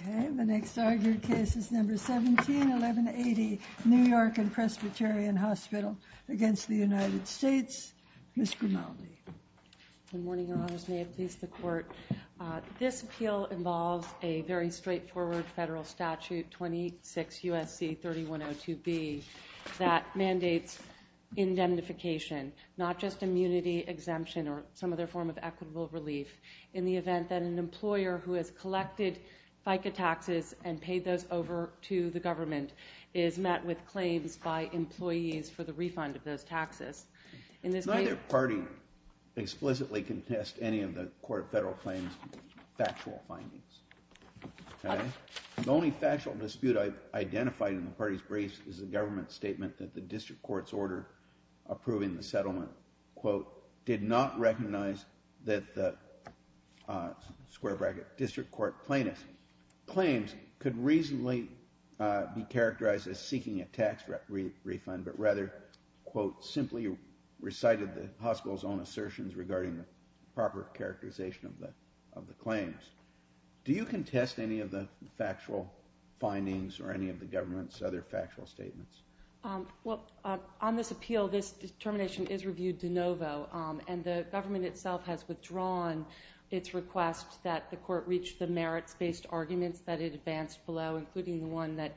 Okay, the next argued case is number 171180, New York and Presbyterian Hospital against the United States. Ms. Grimaldi. Good morning, Your Honors. May it please the Court. This appeal involves a very straightforward federal statute, 26 U.S.C. 3102b, that mandates indemnification, not just immunity exemption or some other form of equitable relief, in the event that an employer who has collected FICA taxes and paid those over to the government is met with claims by employees for the refund of those taxes. Neither party explicitly can test any of the Court of Federal Claims factual findings. The only factual dispute I've identified in the party's briefs is the government statement that the district court's order approving the settlement, quote, did not recognize that the, square bracket, district court plaintiff's claims could reasonably be characterized as seeking a tax refund, but rather, quote, simply recited the hospital's own assertions regarding the proper characterization of the claims. Do you contest any of the factual findings or any of the government's other factual statements? Well, on this appeal, this determination is reviewed de novo, and the government itself has withdrawn its request that the court reach the merits-based arguments that it advanced below, including the one that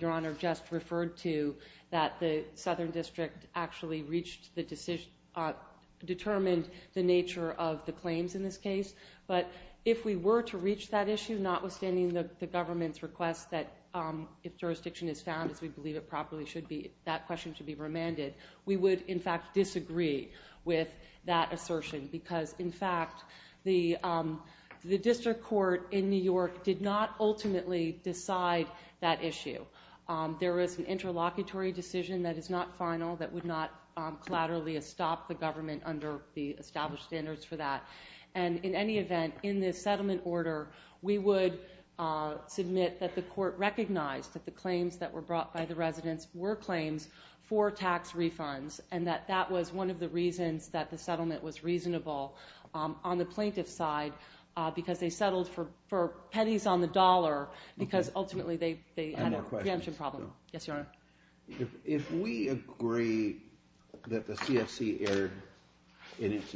Your Honor just referred to, that the southern district actually reached the decision, determined the nature of the claims in this case. But if we were to reach that issue, notwithstanding the government's request that if jurisdiction is found, as we believe it properly should be, that question should be remanded, we would, in fact, disagree with that assertion because, in fact, the district court in New York did not ultimately decide that issue. There is an interlocutory decision that is not final, that would not collaterally stop the government under the established standards for that. And in any event, in this settlement order, we would submit that the court recognized that the claims that were brought by the residents were claims for tax refunds and that that was one of the reasons that the settlement was reasonable on the plaintiff's side because they settled for pennies on the dollar because ultimately they had a preemption problem. Yes, Your Honor. If we agree that the CFC erred in its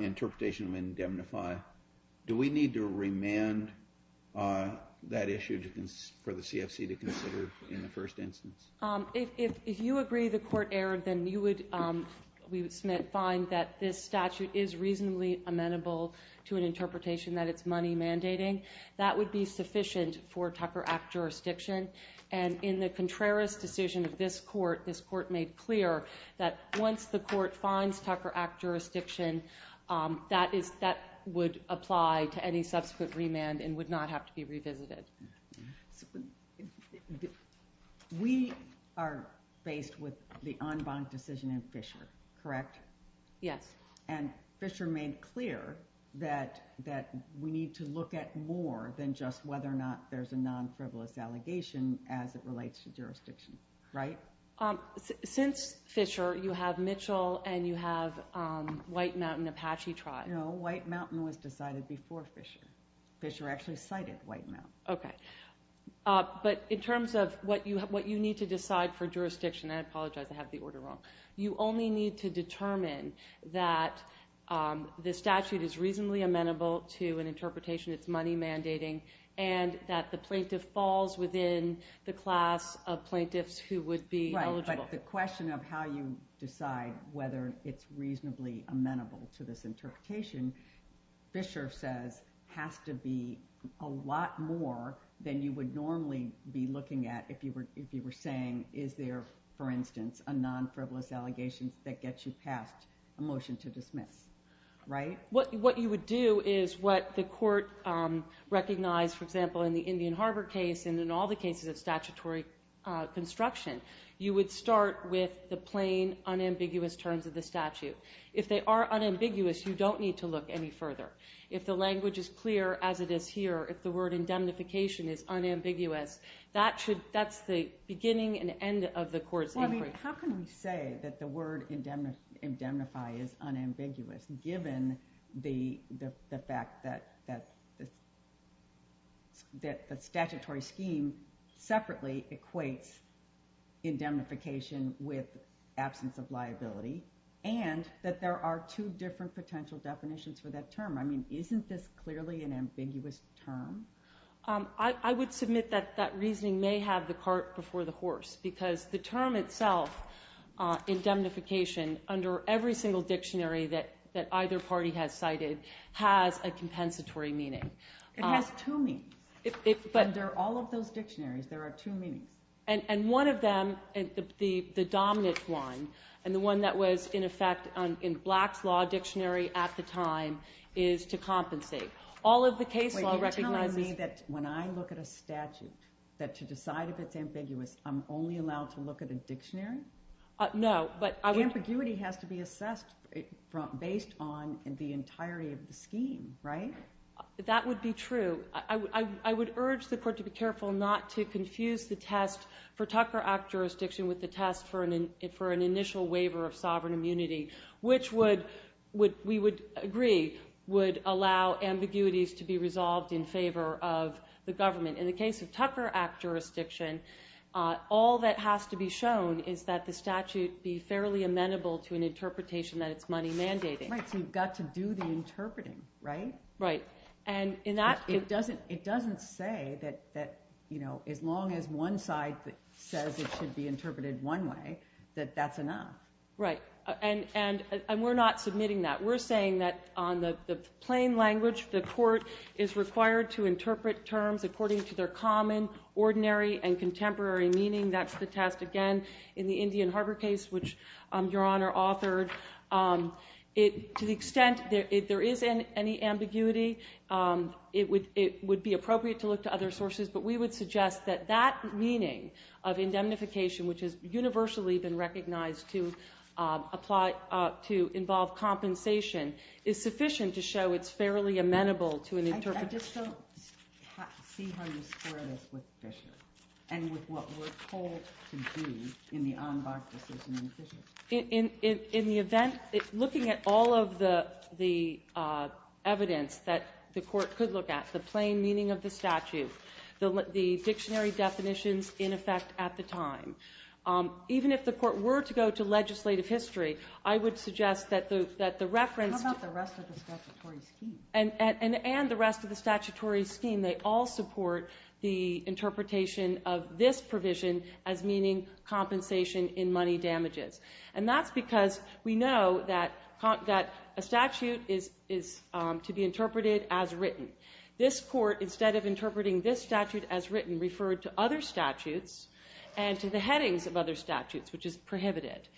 interpretation of indemnify, do we need to remand that issue for the CFC to consider in the first instance? If you agree the court erred, then we would find that this statute is reasonably amenable to an interpretation that it's money mandating. That would be sufficient for Tucker Act jurisdiction. And in the Contreras decision of this court, this court made clear that once the court finds Tucker Act jurisdiction, that would apply to any subsequent remand and would not have to be revisited. We are faced with the en banc decision in Fisher, correct? Yes. And Fisher made clear that we need to look at more than just whether or not there's a non-frivolous allegation as it relates to jurisdiction, right? Since Fisher, you have Mitchell and you have White Mountain Apache tribe. No, White Mountain was decided before Fisher. Fisher actually cited White Mountain. Okay. But in terms of what you need to decide for jurisdiction, and I apologize, I have the order wrong, you only need to determine that the statute is reasonably amenable to an interpretation that's money mandating and that the plaintiff falls within the class of plaintiffs who would be eligible. Right, but the question of how you decide whether it's reasonably amenable to this interpretation, Fisher says has to be a lot more than you would normally be looking at if you were saying is there, for instance, a non-frivolous allegation that gets you past a motion to dismiss, right? What you would do is what the court recognized, for example, in the Indian Harbor case and in all the cases of statutory construction, you would start with the plain, unambiguous terms of the statute. If they are unambiguous, you don't need to look any further. If the language is clear, as it is here, if the word indemnification is unambiguous, that's the beginning and end of the court's inquiry. How can we say that the word indemnify is unambiguous given the fact that the statutory scheme separately equates indemnification with absence of liability and that there are two different potential definitions for that term? I mean, isn't this clearly an ambiguous term? I would submit that that reasoning may have the cart before the horse because the term itself, indemnification, under every single dictionary that either party has cited, has a compensatory meaning. It has two meanings. Under all of those dictionaries, there are two meanings. And one of them, the dominant one, and the one that was in effect in Black's Law Dictionary at the time, is to compensate. Wait, are you telling me that when I look at a statute, that to decide if it's ambiguous, I'm only allowed to look at a dictionary? No. Ambiguity has to be assessed based on the entirety of the scheme, right? That would be true. I would urge the court to be careful not to confuse the test for Tucker Act jurisdiction with the test for an initial waiver of sovereign immunity, which we would agree would allow ambiguities to be resolved in favor of the government. In the case of Tucker Act jurisdiction, all that has to be shown is that the statute be fairly amenable to an interpretation that it's money-mandating. Right, so you've got to do the interpreting, right? Right. It doesn't say that as long as one side says it should be interpreted one way, that that's enough. Right. And we're not submitting that. We're saying that on the plain language, the court is required to interpret terms according to their common, ordinary, and contemporary meaning. That's the test, again, in the Indian Harbor case, which Your Honor authored. To the extent there is any ambiguity, it would be appropriate to look to other sources, but we would suggest that that meaning of indemnification, which has universally been recognized to involve compensation, is sufficient to show it's fairly amenable to an interpretation. I just don't see how you square this with Fisher and with what we're told to do in the Enbach decision in Fisher. In the event, looking at all of the evidence that the court could look at, the plain meaning of the statute, the dictionary definitions in effect at the time, even if the court were to go to legislative history, I would suggest that the reference to the statute How about the rest of the statutory scheme? and the rest of the statutory scheme, they all support the interpretation of this provision as meaning compensation in money damages. And that's because we know that a statute is to be interpreted as written. This court, instead of interpreting this statute as written, referred to other statutes and to the headings of other statutes, which is prohibited.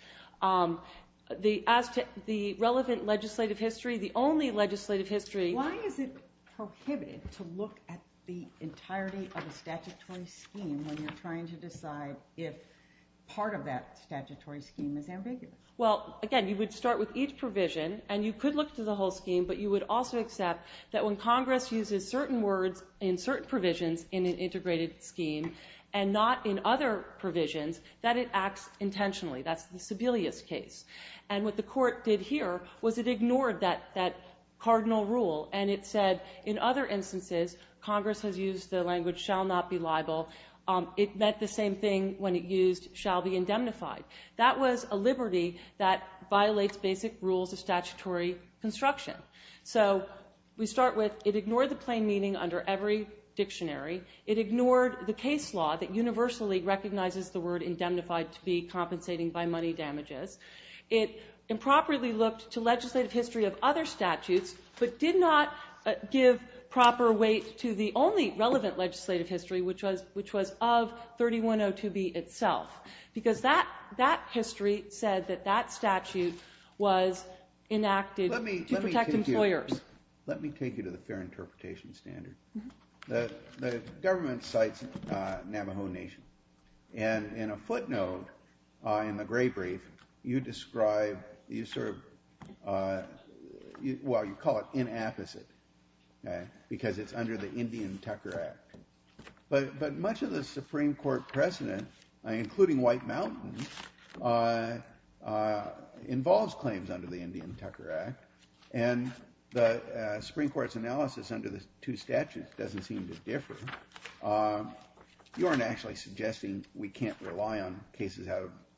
As to the relevant legislative history, the only legislative history... Why is it prohibited to look at the entirety of a statutory scheme when you're trying to decide if part of that statutory scheme is ambiguous? Well, again, you would start with each provision and you could look to the whole scheme, but you would also accept that when Congress uses certain words in certain provisions in an integrated scheme and not in other provisions, that it acts intentionally. That's the Sebelius case. And what the court did here was it ignored that cardinal rule and it said in other instances, Congress has used the language shall not be liable. It meant the same thing when it used shall be indemnified. That was a liberty that violates basic rules of statutory construction. So we start with it ignored the plain meaning under every dictionary. It ignored the case law that universally recognizes the word indemnified to be compensating by money damages. It improperly looked to legislative history of other statutes but did not give proper weight to the only relevant legislative history, which was of 3102B itself, because that history said that that statute was enacted to protect employers. Let me take you to the fair interpretation standard. The government cites Navajo Nation. And in a footnote in the gray brief, you describe, you sort of, well, you call it inapposite because it's under the Indian Tucker Act. But much of the Supreme Court precedent, including White Mountain, involves claims under the Indian Tucker Act, and the Supreme Court's analysis under the two statutes doesn't seem to differ. You aren't actually suggesting we can't rely on cases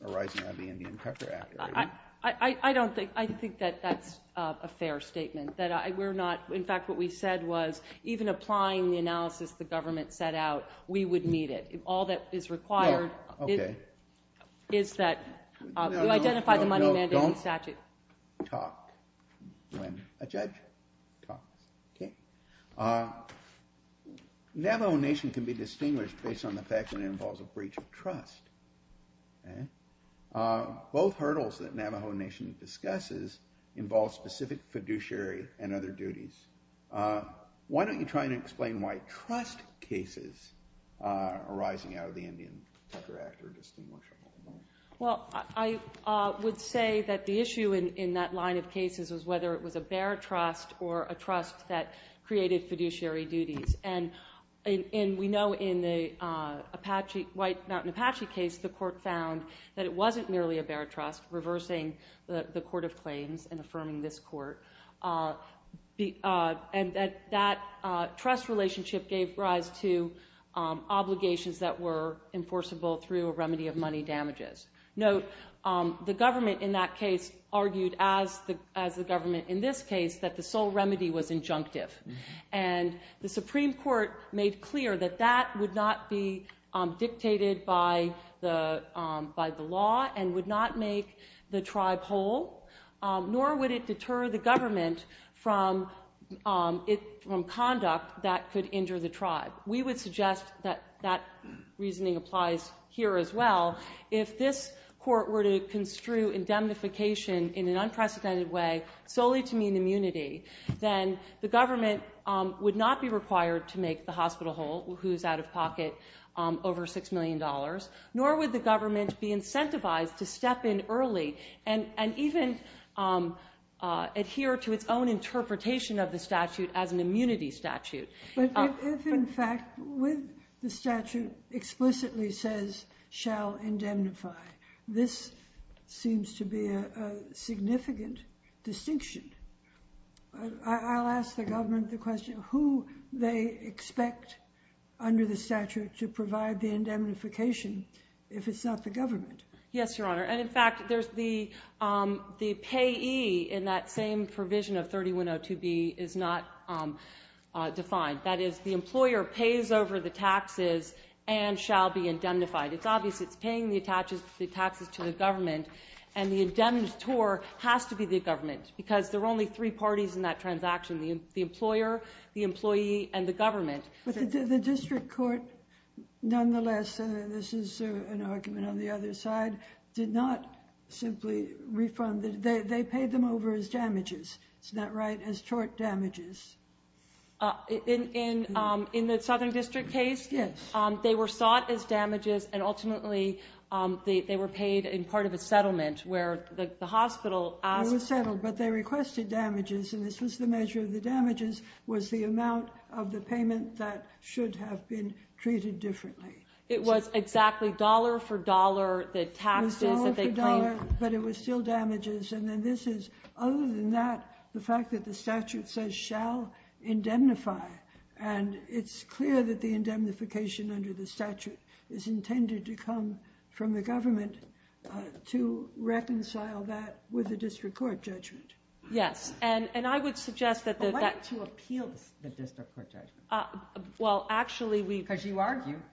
arising out of the Indian Tucker Act? I don't think that that's a fair statement. In fact, what we said was even applying the analysis the government set out, we would meet it. All that is required is that you identify the money mandate in the statute. Don't talk when a judge talks. Okay. Navajo Nation can be distinguished based on the fact that it involves a breach of trust. Both hurdles that Navajo Nation discusses involve specific fiduciary and other duties. Why don't you try and explain why trust cases arising out of the Indian Tucker Act are distinguishable? Well, I would say that the issue in that line of cases was whether it was a bare trust or a trust that created fiduciary duties. And we know in the White Mountain Apache case, the court found that it wasn't merely a bare trust, reversing the court of claims and affirming this court, and that that trust relationship gave rise to obligations that were enforceable through a remedy of money damages. Note, the government in that case argued, as the government in this case, that the sole remedy was injunctive. And the Supreme Court made clear that that would not be dictated by the law and would not make the tribe whole, nor would it deter the government from conduct that could injure the tribe. We would suggest that that reasoning applies here as well. If this court were to construe indemnification in an unprecedented way, solely to mean immunity, then the government would not be required to make the hospital whole, who is out of pocket, over $6 million, nor would the government be incentivized to step in early and even adhere to its own interpretation of the statute as an immunity statute. But if, in fact, what the statute explicitly says shall indemnify, this seems to be a significant distinction. I'll ask the government the question, who they expect under the statute to provide the indemnification if it's not the government. Yes, Your Honor. And, in fact, the payee in that same provision of 3102B is not defined. That is, the employer pays over the taxes and shall be indemnified. It's obvious it's paying the taxes to the government, and the indemnitor has to be the government because there are only three parties in that transaction, the employer, the employee, and the government. But the district court, nonetheless, and this is an argument on the other side, did not simply refund. They paid them over as damages. Isn't that right? As tort damages. In the Southern District case? Yes. They were sought as damages, and ultimately they were paid in part of a settlement where the hospital asked. It was settled, but they requested damages, and this was the measure of the damages was the amount of the payment that should have been treated differently. It was exactly dollar for dollar the taxes that they claimed. It was dollar for dollar, but it was still damages, and then this is, other than that, the fact that the statute says shall indemnify, and it's clear that the indemnification under the statute is intended to come from the government to reconcile that with the district court judgment. Yes, and I would suggest that that... But why did you appeal the district court judgment? Well, actually, we... The fact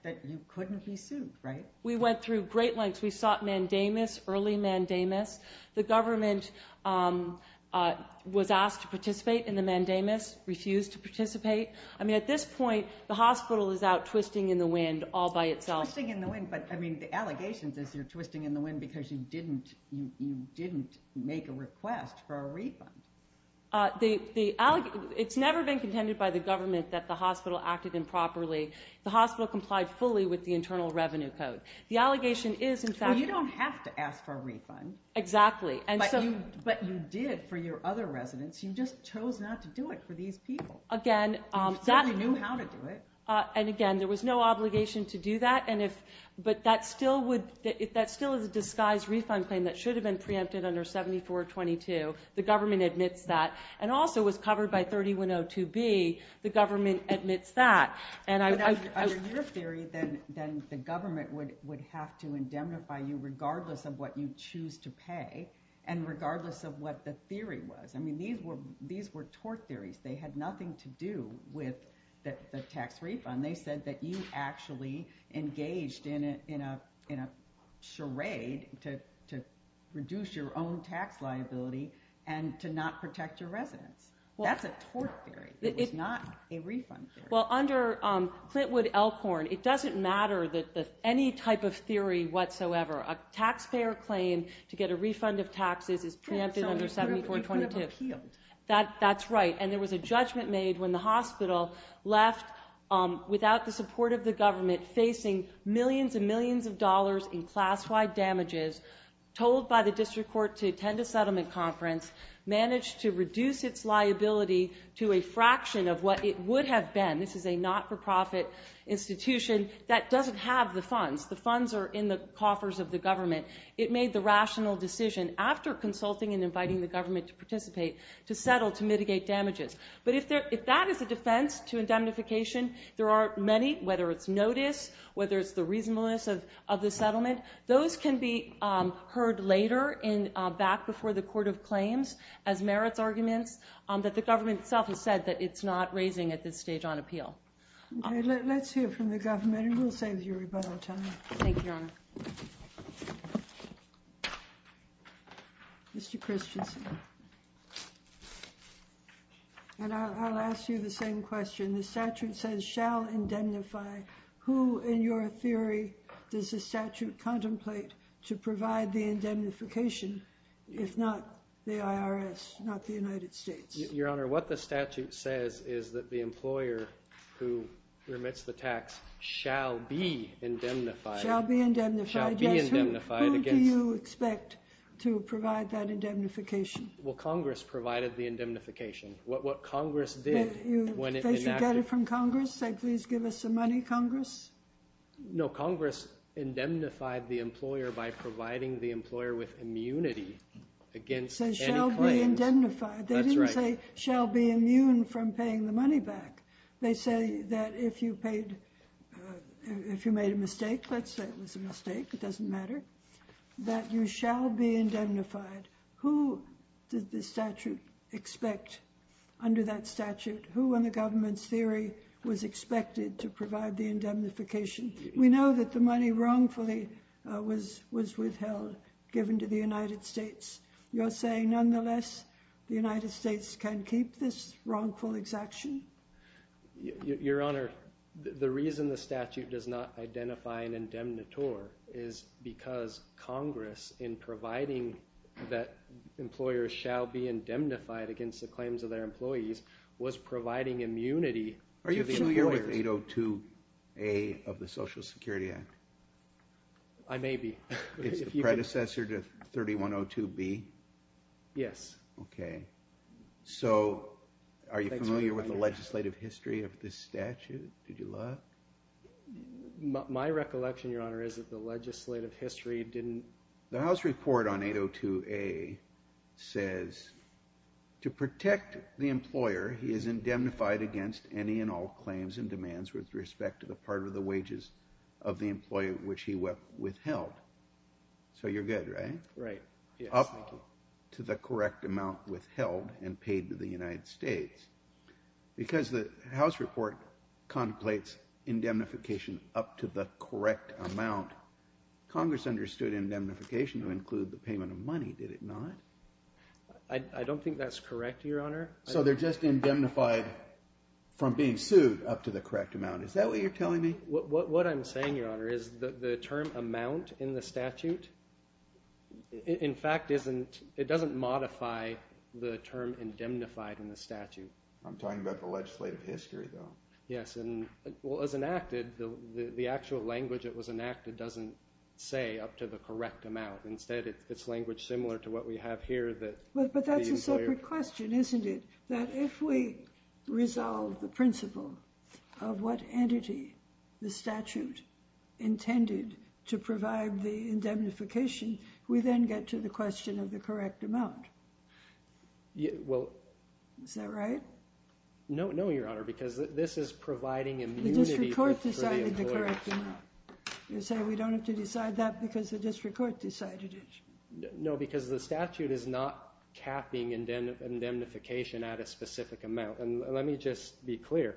that you couldn't be sued, right? We went through great lengths. We sought mandamus, early mandamus. The government was asked to participate in the mandamus, refused to participate. I mean, at this point, the hospital is out twisting in the wind all by itself. Twisting in the wind, but, I mean, the allegations is you're twisting in the wind because you didn't make a request for a refund. It's never been contended by the government that the hospital acted improperly. The hospital complied fully with the internal revenue code. The allegation is, in fact... Well, you don't have to ask for a refund. Exactly, and so... But you did for your other residents. You just chose not to do it for these people. Again, that... You certainly knew how to do it. And, again, there was no obligation to do that, but that still is a disguised refund claim that should have been preempted under 7422. The government admits that, and also was covered by 3102B. The government admits that, and I... But under your theory, then the government would have to indemnify you regardless of what you choose to pay and regardless of what the theory was. I mean, these were tort theories. They had nothing to do with the tax refund. They said that you actually engaged in a charade to reduce your own tax liability and to not protect your residents. That's a tort theory. It was not a refund theory. Well, under Clintwood-Elkhorn, it doesn't matter any type of theory whatsoever. A taxpayer claim to get a refund of taxes is preempted under 7422. That's right. And there was a judgment made when the hospital left without the support of the government, facing millions and millions of dollars in class-wide damages, told by the district court to attend a settlement conference, managed to reduce its liability to a fraction of what it would have been. This is a not-for-profit institution that doesn't have the funds. The funds are in the coffers of the government. It made the rational decision, after consulting and inviting the government to participate, to settle to mitigate damages. But if that is a defense to indemnification, there are many, whether it's notice, whether it's the reasonableness of the settlement. Those can be heard later back before the court of claims as merits arguments that the government itself has said that it's not raising at this stage on appeal. Okay, let's hear from the government, and we'll save you rebuttal time. Thank you, Your Honor. Mr. Christensen. And I'll ask you the same question. The statute says, shall indemnify. Who, in your theory, does the statute contemplate to provide the indemnification, if not the IRS, not the United States? Your Honor, what the statute says is that the employer who remits the tax shall be indemnified. Shall be indemnified. Shall be indemnified. Who do you expect to provide that indemnification? Well, Congress provided the indemnification. What Congress did when it enacted... Did they get it from Congress? Say, please give us some money, Congress? No, Congress indemnified the employer by providing the employer with immunity against any claims. It says, shall be indemnified. That's right. They didn't say, shall be immune from paying the money back. They say that if you paid... If you made a mistake, let's say it was a mistake, it doesn't matter, that you shall be indemnified. Who did the statute expect under that statute? Who, in the government's theory, was expected to provide the indemnification? We know that the money wrongfully was withheld, given to the United States. You're saying, nonetheless, the United States can keep this wrongful exaction? Your Honor, the reason the statute does not identify an indemnitor is because Congress, in providing that employers shall be indemnified against the claims of their employees, was providing immunity to the employers. Are you sure you're with 802A of the Social Security Act? I may be. It's the predecessor to 3102B? Yes. Okay. So, are you familiar with the legislative history of this statute? Did you look? My recollection, Your Honor, is that the legislative history didn't... The House report on 802A says, to protect the employer, he is indemnified against any and all claims and demands with respect to the part of the wages of the employee which he withheld. So you're good, right? Right. Up to the correct amount withheld and paid to the United States. Because the House report contemplates indemnification up to the correct amount, Congress understood indemnification to include the payment of money, did it not? I don't think that's correct, Your Honor. from being sued up to the correct amount. Is that what you're telling me? What I'm saying, Your Honor, is the term amount in the statute, in fact, it doesn't modify the term indemnified in the statute. I'm talking about the legislative history, though. Yes. Well, as enacted, the actual language that was enacted doesn't say up to the correct amount. Instead, it's language similar to what we have here that the employer... But that's a separate question, isn't it? That if we resolve the principle of what entity the statute intended to provide the indemnification, we then get to the question of the correct amount. Well... Is that right? No, Your Honor, because this is providing immunity for the employer. The district court decided the correct amount. You're saying we don't have to decide that because the district court decided it. No, because the statute is not capping indemnification at a specific amount. And let me just be clear,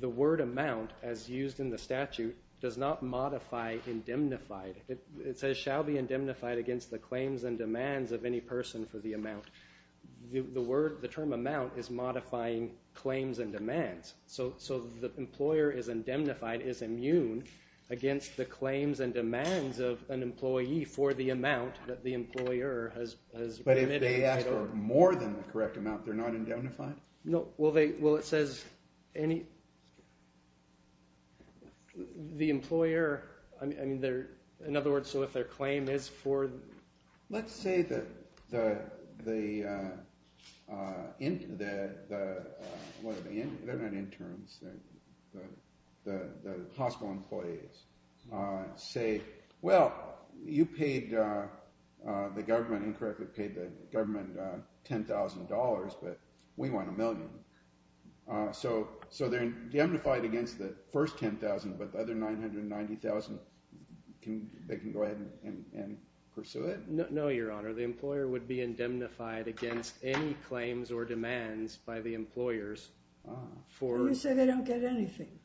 the word amount, as used in the statute, does not modify indemnified. It says, shall be indemnified against the claims and demands of any person for the amount. The term amount is modifying claims and demands. So the employer is indemnified, is immune against the claims and demands of an employee for the amount that the employer has committed. But if they ask for more than the correct amount, they're not indemnified? No. Well, it says any... The employer... I mean, they're... In other words, so if their claim is for... Let's say that the... They're not interns. The hospital employees say, well, you paid the government, incorrectly paid the government $10,000, but we want a million. So they're indemnified against the first $10,000, but the other $990,000, they can go ahead and pursue it? No, Your Honor. The employer would be indemnified against any claims or demands by the employers for... You say they don't get anything.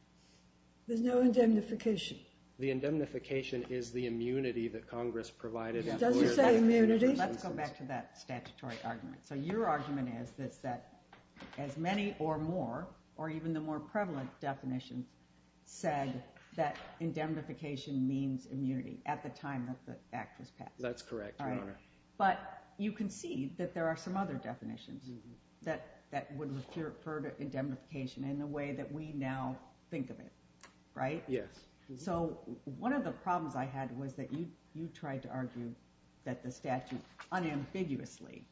There's no indemnification. The indemnification is the immunity that Congress provided... It doesn't say immunity. Let's go back to that statutory argument. So your argument is that as many or more, or even the more prevalent definitions, said that indemnification means immunity at the time that the act was passed. That's correct, Your Honor. But you can see that there are some other definitions that would refer to indemnification in the way that we now think of it, right? Yes. So one of the problems I had was that you tried to argue that the statute unambiguously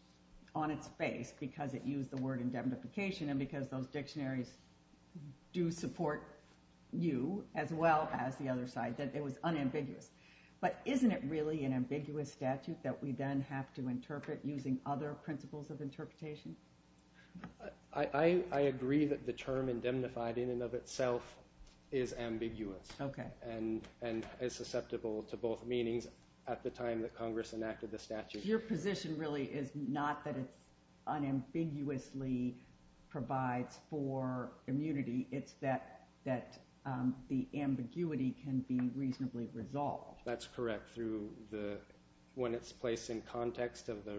on its face because it used the word indemnification and because those dictionaries do support you as well as the other side, that it was unambiguous. But isn't it really an ambiguous statute that we then have to interpret using other principles of interpretation? I agree that the term indemnified in and of itself is ambiguous. Okay. And is susceptible to both meanings at the time that Congress enacted the statute. Your position really is not that it's unambiguously provides for immunity. It's that the ambiguity can be reasonably resolved. That's correct. When it's placed in context of the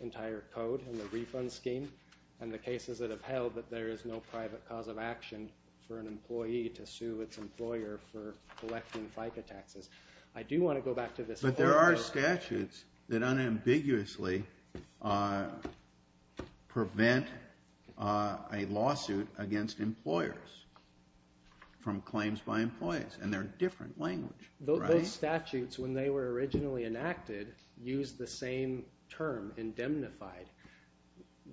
entire code and the refund scheme and the cases that have held that there is no private cause of action for an employee to sue its employer for collecting FICA taxes. I do want to go back to this. But there are statutes that unambiguously prevent a lawsuit against employers from claims by employees. And they're different language. Those statutes, when they were originally enacted, used the same term, indemnified.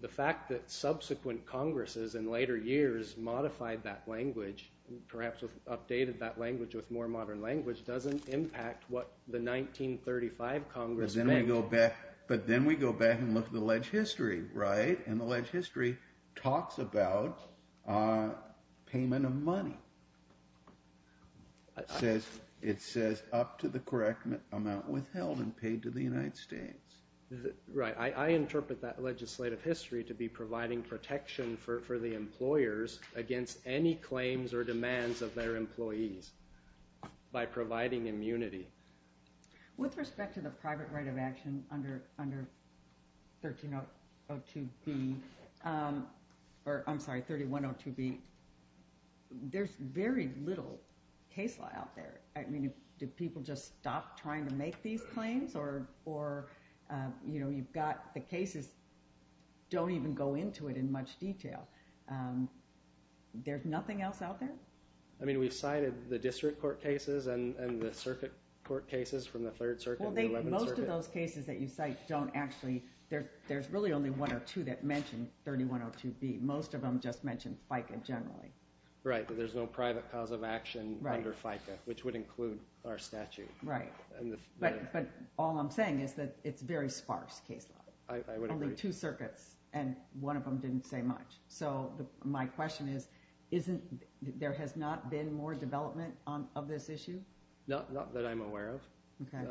The fact that subsequent Congresses in later years modified that language, perhaps updated that language with more modern language, doesn't impact what the 1935 Congress made. But then we go back and look at the leg history, right? And the leg history talks about payment of money. It says up to the correct amount withheld and paid to the United States. Right. I interpret that legislative history to be providing protection for the employers against any claims or demands of their employees by providing immunity. With respect to the private right of action under 1302B, or I'm sorry, 3102B, there's very little case law out there. I mean, did people just stop trying to make these claims? Or, you know, you've got the cases don't even go into it in much detail. There's nothing else out there? I mean, we've cited the district court cases and the circuit court cases from the Third Circuit and the Eleventh Circuit. Well, most of those cases that you cite don't actually, there's really only one or two that mention 3102B. Most of them just mention FICA generally. Right, but there's no private cause of action under FICA, which would include our statute. Right. But all I'm saying is that it's very sparse case law. I would agree. Only two circuits, and one of them didn't say much. So my question is, there has not been more development of this issue? Not that I'm aware of. Okay.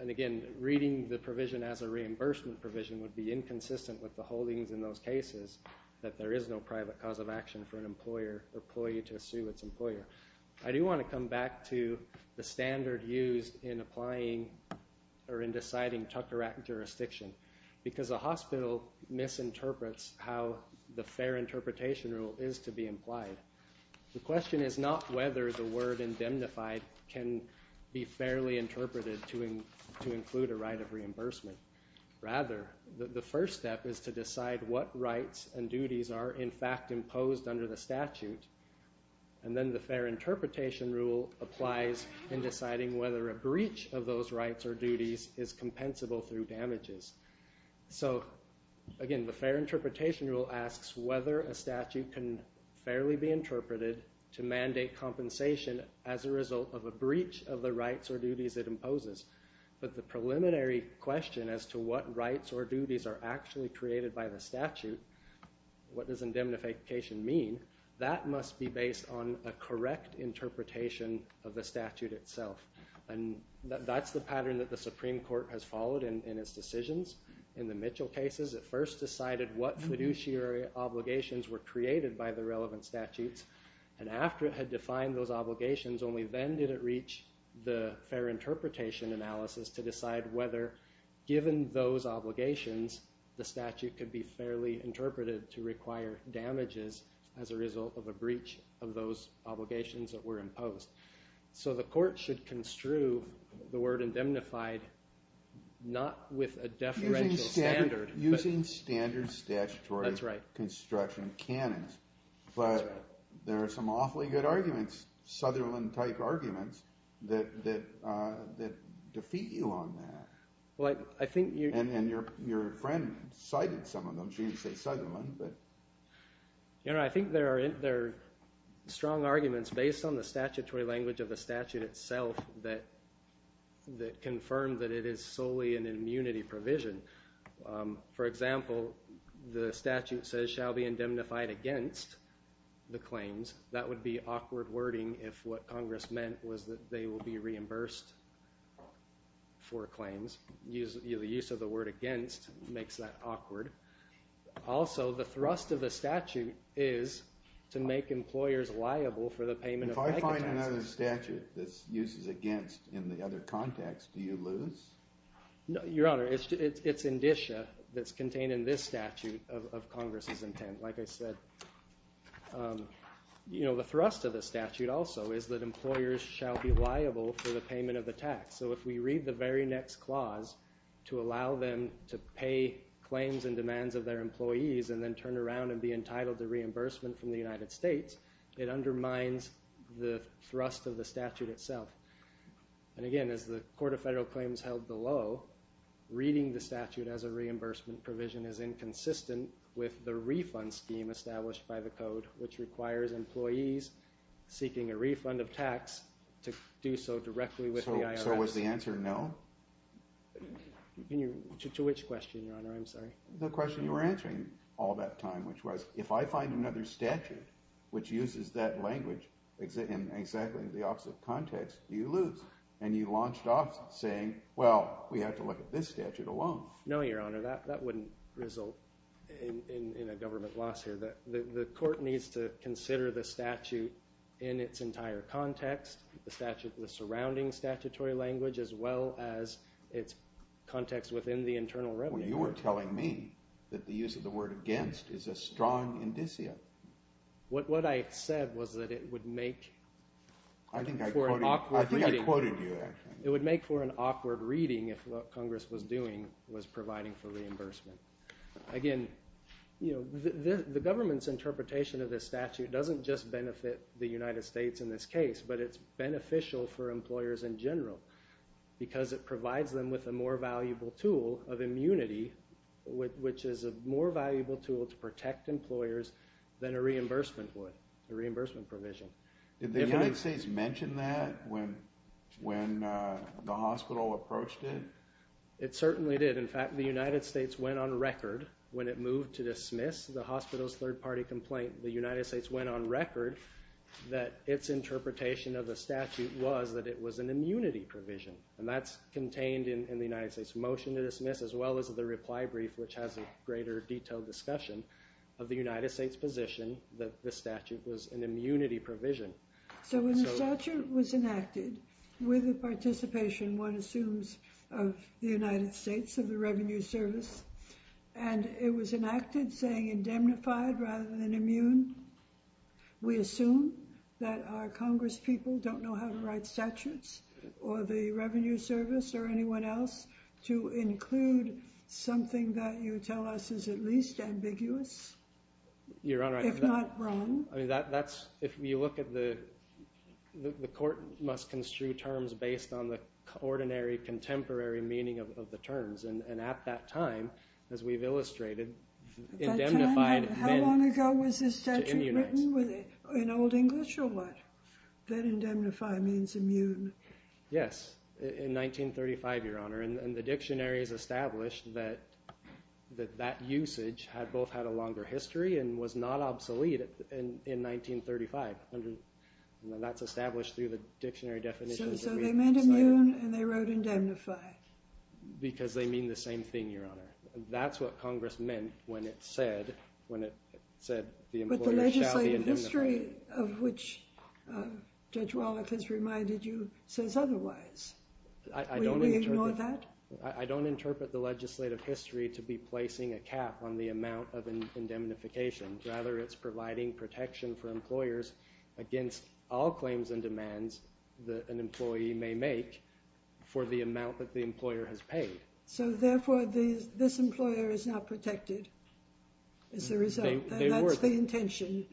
And again, reading the provision as a reimbursement provision would be inconsistent with the holdings in those cases that there is no private cause of action for an employer or employee to sue its employer. I do want to come back to the standard used in applying or in deciding Tucker Act jurisdiction. Because a hospital misinterprets how the fair interpretation rule is to be implied. The question is not whether the word indemnified can be fairly interpreted to include a right of reimbursement. Rather, the first step is to decide what rights and duties are in fact imposed under the statute. And then the fair interpretation rule applies in deciding whether a breach of those rights or duties is compensable through damages. So, again, the fair interpretation rule asks whether a statute can fairly be interpreted to mandate compensation as a result of a breach of the rights or duties it imposes. But the preliminary question as to what rights or duties are actually created by the statute, what does indemnification mean, that must be based on a correct interpretation of the statute itself. And that's the pattern that the Supreme Court has followed in its decisions. In the Mitchell cases, it first decided what fiduciary obligations were created by the relevant statutes. And after it had defined those obligations, only then did it reach the fair interpretation analysis to decide whether, given those obligations, the statute could be fairly interpreted to require damages as a result of a breach of those obligations that were imposed. So the court should construe the word indemnified not with a deferential standard, but... Using standard statutory construction canons. But there are some awfully good arguments Sutherland-type arguments that defeat you on that. And your friend cited some of them. She didn't say Sutherland, but... You know, I think there are strong arguments based on the statutory language of the statute itself that confirm that it is solely an immunity provision. For example, the statute says shall be indemnified against the claims. That would be discourting if what Congress meant was that they will be reimbursed for claims. The use of the word against makes that awkward. Also, the thrust of the statute is to make employers liable for the payment of... If I find another statute that uses against in the other context, do you lose? Your Honor, it's indicia that's contained in this statute of Congress's intent. Like I said, the thrust of the statute also is that employers shall be liable for the payment of the tax. So if we read the very next clause to allow them to pay claims and demands of their employees and then turn around and be entitled to reimbursement from the United States, it undermines the thrust of the statute itself. And again, as the Court of Federal Claims held below, reading the statute as a reimbursement provision is inconsistent with the refund scheme established by the Code which requires employees seeking a refund of tax to do so directly with the IRS. So was the answer no? To which question, Your Honor? I'm sorry. The question you were answering all that time, which was, if I find another statute which uses that language in exactly the opposite context, do you lose? And you launched off saying, well, we have to look at this statute alone. No, Your Honor, that wouldn't result in a government loss here. The Court needs to consider the statute in its entire context, the statute with surrounding statutory language as well as its context within the internal revenue. Well, you were telling me that the use of the word against is a strong indicia. What I said was that it would make for an awkward reading. I think I quoted you, actually. It would make for an awkward reading if what Congress was doing was providing for reimbursement. Again, you know, the government's interpretation of this statute doesn't just benefit the United States in this case, but it's beneficial for employers in general because it provides them with a more valuable tool of immunity, which is a more valuable tool to protect employers than a reimbursement would, a reimbursement provision. Did the United States mention that when the hospital approached it? It certainly did. In fact, the United States went on record when it moved to dismiss the hospital's third-party complaint, the United States went on record that its interpretation of the statute was that it was an immunity provision. And that's contained in the United States motion to dismiss as well as the reply brief, which has a greater detailed discussion of the United States position that the statute was an immunity provision. So when the statute was enacted with the participation, one assumes, of the United States of the Revenue Service and it was enacted saying indemnified rather than immune, we assume that our Congress people don't know how to write statutes or the Revenue Service or anyone else to include something that you tell us is at least ambiguous, if not wrong. That's, if you look at the, the court must construe terms based on the ordinary contemporary meaning of the terms. And at that time, as we've illustrated, indemnified meant... How long ago was this statute written? In Old English or what? That indemnify means immune. Yes. In 1935, Your Honor. And the dictionary has established that that usage had both had a longer history and was not obsolete in 1935. And that's established through the dictionary definitions. So they meant immune and they wrote indemnify. Because they mean the same thing, Your Honor. That's what Congress meant when it said, when it said the employer shall be indemnified. But the legislative history of which Judge Wallach has reminded you says otherwise. Will we ignore that? I don't interpret the legislative history to be placing a cap on the amount of indemnification. Rather, it's providing protection for employers against all claims and demands that an employee may make for the amount that the employer has paid. So therefore, this employer is not protected as a result. That's the intention.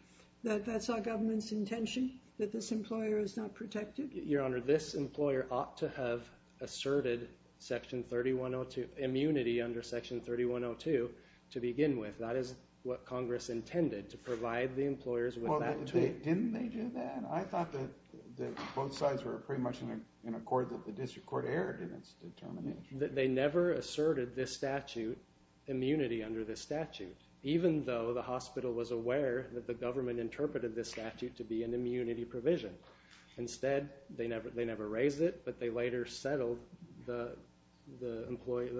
That's our government's intention that this employer is not protected. Your Honor, this employer ought to have asserted Section 3102, immunity under Section 3102 to begin with. That is what Congress intended to provide the employers with that too. Well, didn't they do that? I thought that both sides were pretty much in accord that the district court erred in its determination. They never asserted this statute, immunity under this statute, even though the hospital was aware that the government interpreted this statute to be an immunity provision. Instead, they never raised it, but they later settled the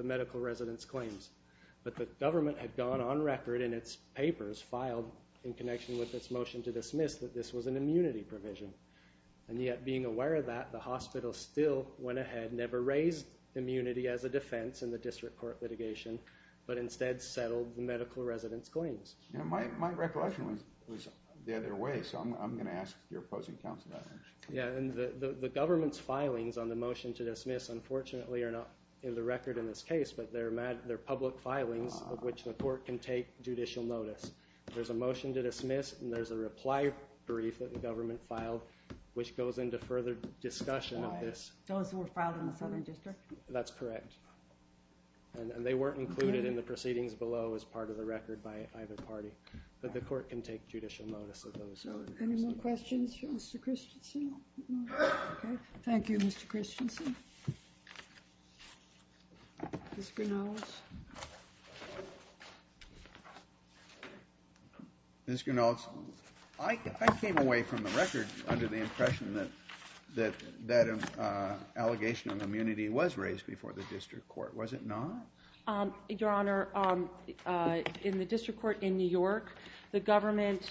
medical resident's claims. But the government had gone on record in its papers filed in connection with its motion to dismiss that this was an immunity provision. And yet, being aware of that, the hospital still went ahead, never raised immunity as a defense in the district court litigation, but instead settled the medical resident's claims. My recollection was the other way, so I'm going to ask your opposing counsel about that. Yeah, and the government's filings on the motion to dismiss unfortunately are not in the record in this case, but they're public filings of which the court can take judicial notice. There's a motion to dismiss and there's a reply brief that the government filed which goes into further discussion of this. Those that were filed in the southern district? That's correct. And they weren't included in the proceedings below as part of the record by either party. But the court can take judicial notice of those. Any more questions for Mr. Christensen? Okay. Thank you, Mr. Christensen. Mr. Ganoz. Ms. Ganoz, I came away from the record under the impression that that allegation of immunity was raised before the district court. Was it not? Your Honor, in the district court in New York, the government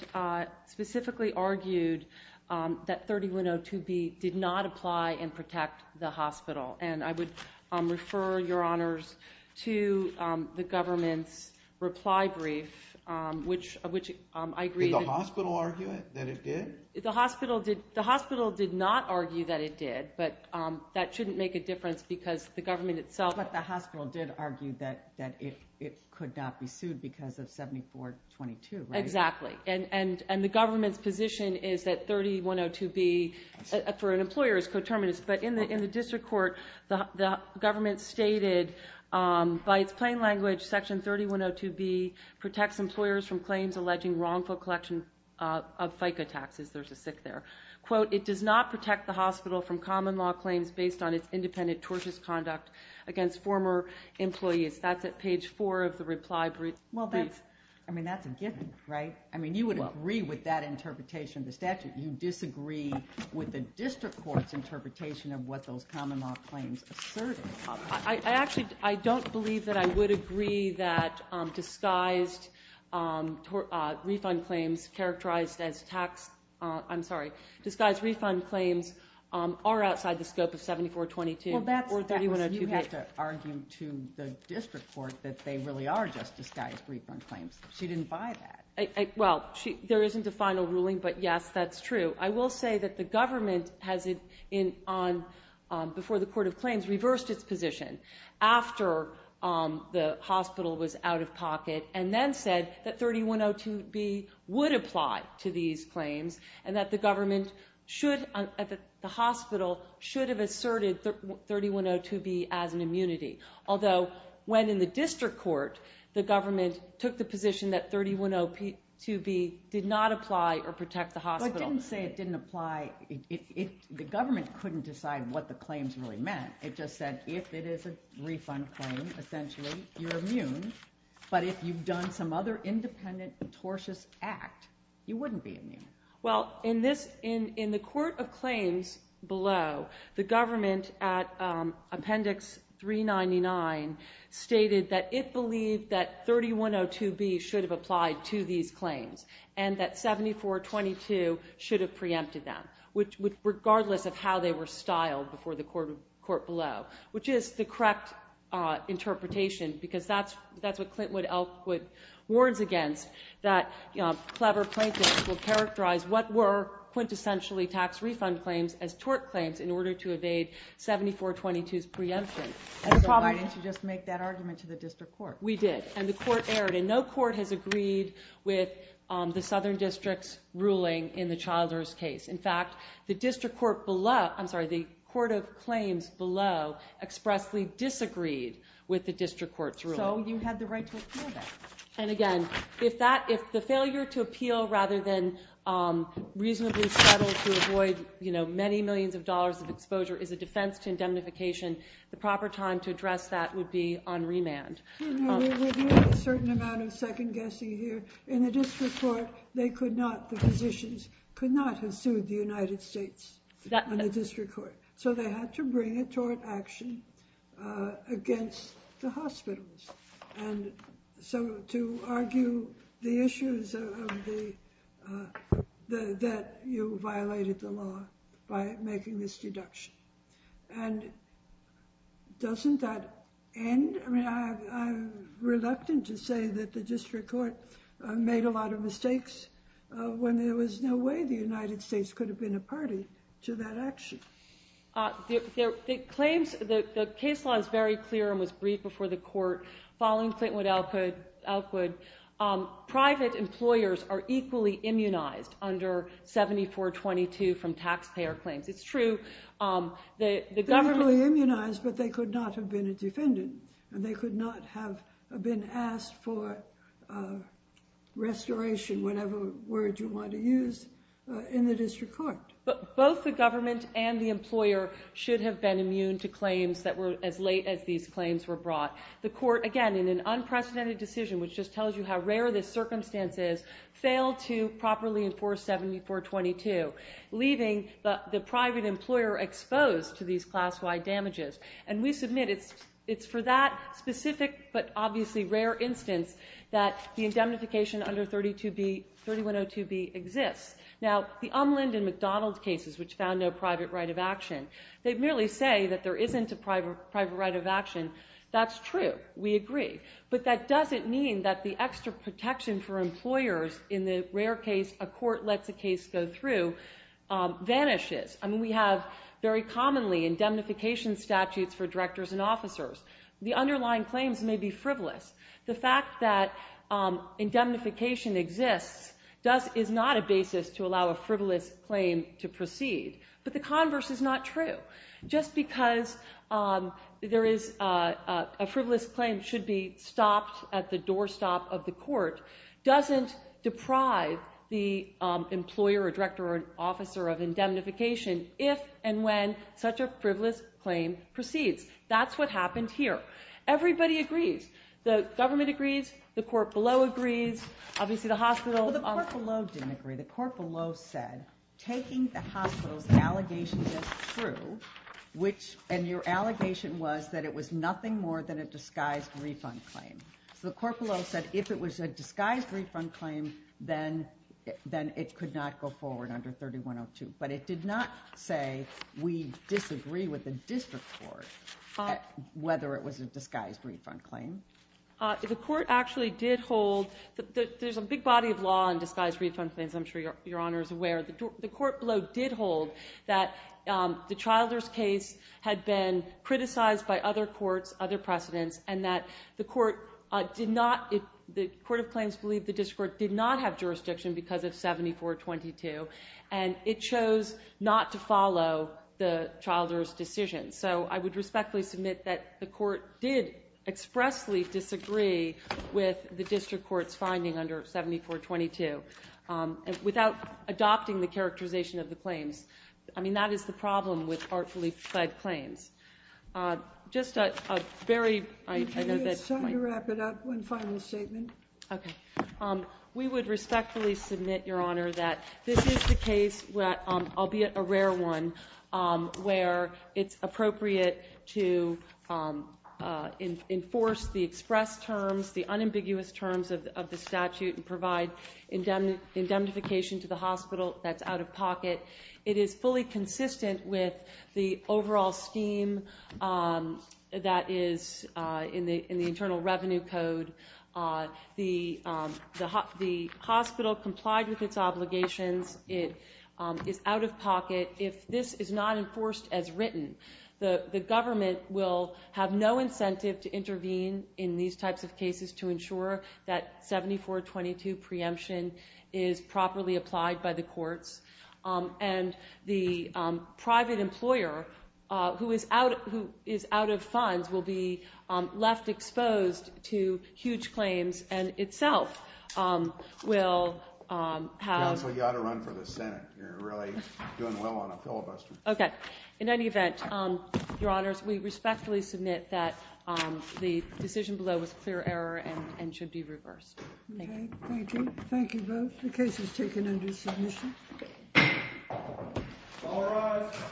specifically argued that 3102B did not apply and protect the hospital. And I would refer, Your Honors, to the government's reply brief which I agree that... Did the hospital argue that it did? The hospital did. The hospital did not argue that it did. But that shouldn't make a difference because the government itself... But the hospital did argue that it could not be sued because of 7422, right? Exactly. And the government's position is that 3102B, for an employer, is coterminous. But in the district court, the government stated by its plain language, Section 3102B protects employers from claims alleging wrongful collection of FICA taxes. There's a sick there. Quote, it does not protect the hospital from common law claims based on its independent tortious conduct against former employees. That's at page 4 of the reply brief. Well, that's... I mean, that's a given, right? I mean, you would agree with that interpretation of the statute. You disagree with the district court's interpretation of what those common law claims asserted. I actually... I don't believe that I would agree that disguised refund claims characterized as tax... I'm sorry. Disguised refund claims are outside the scope of 7422 or 3102B. Well, that's... You have to argue to the district court that they really are just disguised refund claims. She didn't buy that. Well, there isn't a final ruling, but yes, that's true. I will say that the government has, before the court of claims, reversed its position after the hospital was out of pocket and then said that 3102B would apply to these claims and that the government should, at the hospital, should have asserted 3102B as an immunity. Although, when in the district court, the government took the position that 3102B did not apply or protect the hospital. But it didn't say it didn't apply. The government couldn't decide what the claims really meant. It just said, if it is a refund claim, essentially, you're immune. But if you've done some other independent, tortious act, you wouldn't be immune. Well, in this, in the court of claims below, the government at appendix 399 stated that it believed that 3102B should have applied to these claims and that 7422 should have preempted them, regardless of how they were styled before the court below, which is the correct interpretation because that's what Clint Wood warns against that clever plaintiffs will characterize what were quintessentially tax refund claims as tort claims in order to evade 7422's preemption. And so why didn't you just make that argument to the district court? We did. And the court erred. And no court has agreed with the southern district's ruling in the Childers case. In fact, the district court below, I'm sorry, the court of claims below expressly disagreed with the district court's ruling. So you had the right to appeal that. And again, if the failure to appeal rather than reasonably settle to avoid, you know, many millions of dollars of exposure is a defense to indemnification, the proper time to address that would be on remand. We're doing a certain amount of second guessing here. In the district court, they could not, the physicians, could not have sued the United States on the district court. So they had to bring a tort action against the hospitals. And so to argue the issues of the, that you violated the law by making this deduction. And doesn't that end? I mean, I'm reluctant to say that the district court made a lot of mistakes when there was no way the United States could have been a party to that action. The claims, the case law is very clear and was briefed for the court following Clayton Wood Elkwood. Private employers are equally immunized under 7422 from taxpayer claims. It's true, the government. They're equally immunized, but they could not have been a defendant. And they could not have been asked for restoration, whatever word you want to use, in the district court. But both the government and the employer should have been immune to claims that were, as late as these claims were brought. The court, again, in an unprecedented decision, which just tells you how rare this circumstance is, failed to properly enforce 7422, leaving the private employer exposed to these class-wide damages. And we submit it's for that specific but obviously rare instance that the indemnification under 3102b exists. Now, the Umland and McDonald cases, which found no private right of action, they merely say that there isn't a private right of action that's true. We agree. But that doesn't mean that the extra protection for employers in the rare case a court lets a case go through vanishes. I mean, we have very commonly indemnification statutes for directors and officers. The underlying claims may be frivolous. The fact that indemnification exists is not a basis to allow a frivolous claim to proceed. But the converse is not true. Just because there is a frivolous claim should be stopped at the doorstop of the court doesn't deprive the employer or director or officer of indemnification if and when such a frivolous claim proceeds. That's what happened here. Everybody agrees. The government agrees. The court below agrees. Obviously the hospital... Well, the court below didn't agree. The court below said taking the hospital's allegations as true, which... And your allegation was that it was nothing more than a disguised refund claim. So the court below said if it was a disguised refund claim, then it could not go forward under 3102. But it did not say we disagree with the district court whether it was a disguised refund claim. The court actually did hold... There's a big body of law on disguised refund claims. I'm sure Your Honor is aware. The court below did hold that the Childer's case had been criticized by other courts, other precedents, and that the court did not... The court of claims believed the district court did not have jurisdiction because of 7422. And it chose not to follow the Childer's decision. So I would respectfully submit that the court did expressly disagree with the district court's finding under 7422. Without adopting the Childer's claim. I mean, that is the problem with artfully fed claims. Just a very... I know that... Could you just wrap it up one final statement? Okay. We would respectfully submit, Your Honor, that this is the case, albeit a rare one, where it's appropriate to enforce the express terms, the unambiguous terms of the statute, and provide indemnification to the hospital that's out of pocket. It is fully consistent with the overall scheme that is in the Internal Revenue Code. The hospital complied with its obligations. It is out of pocket. If this is not enforced as written, the government will have no incentive to intervene in these types of cases to ensure that 74-22 preemption is properly applied by the courts, and the private employer, who is out of funds, will be left exposed to huge claims, and itself will have... Counsel, you ought to run for the Senate. You're really doing well on a filibuster. Okay. In any event, Your Honors, we respectfully submit that the decision below was clear error and should be reversed. Okay. Thank you. Thank you both. The case is taken under submission. All rise.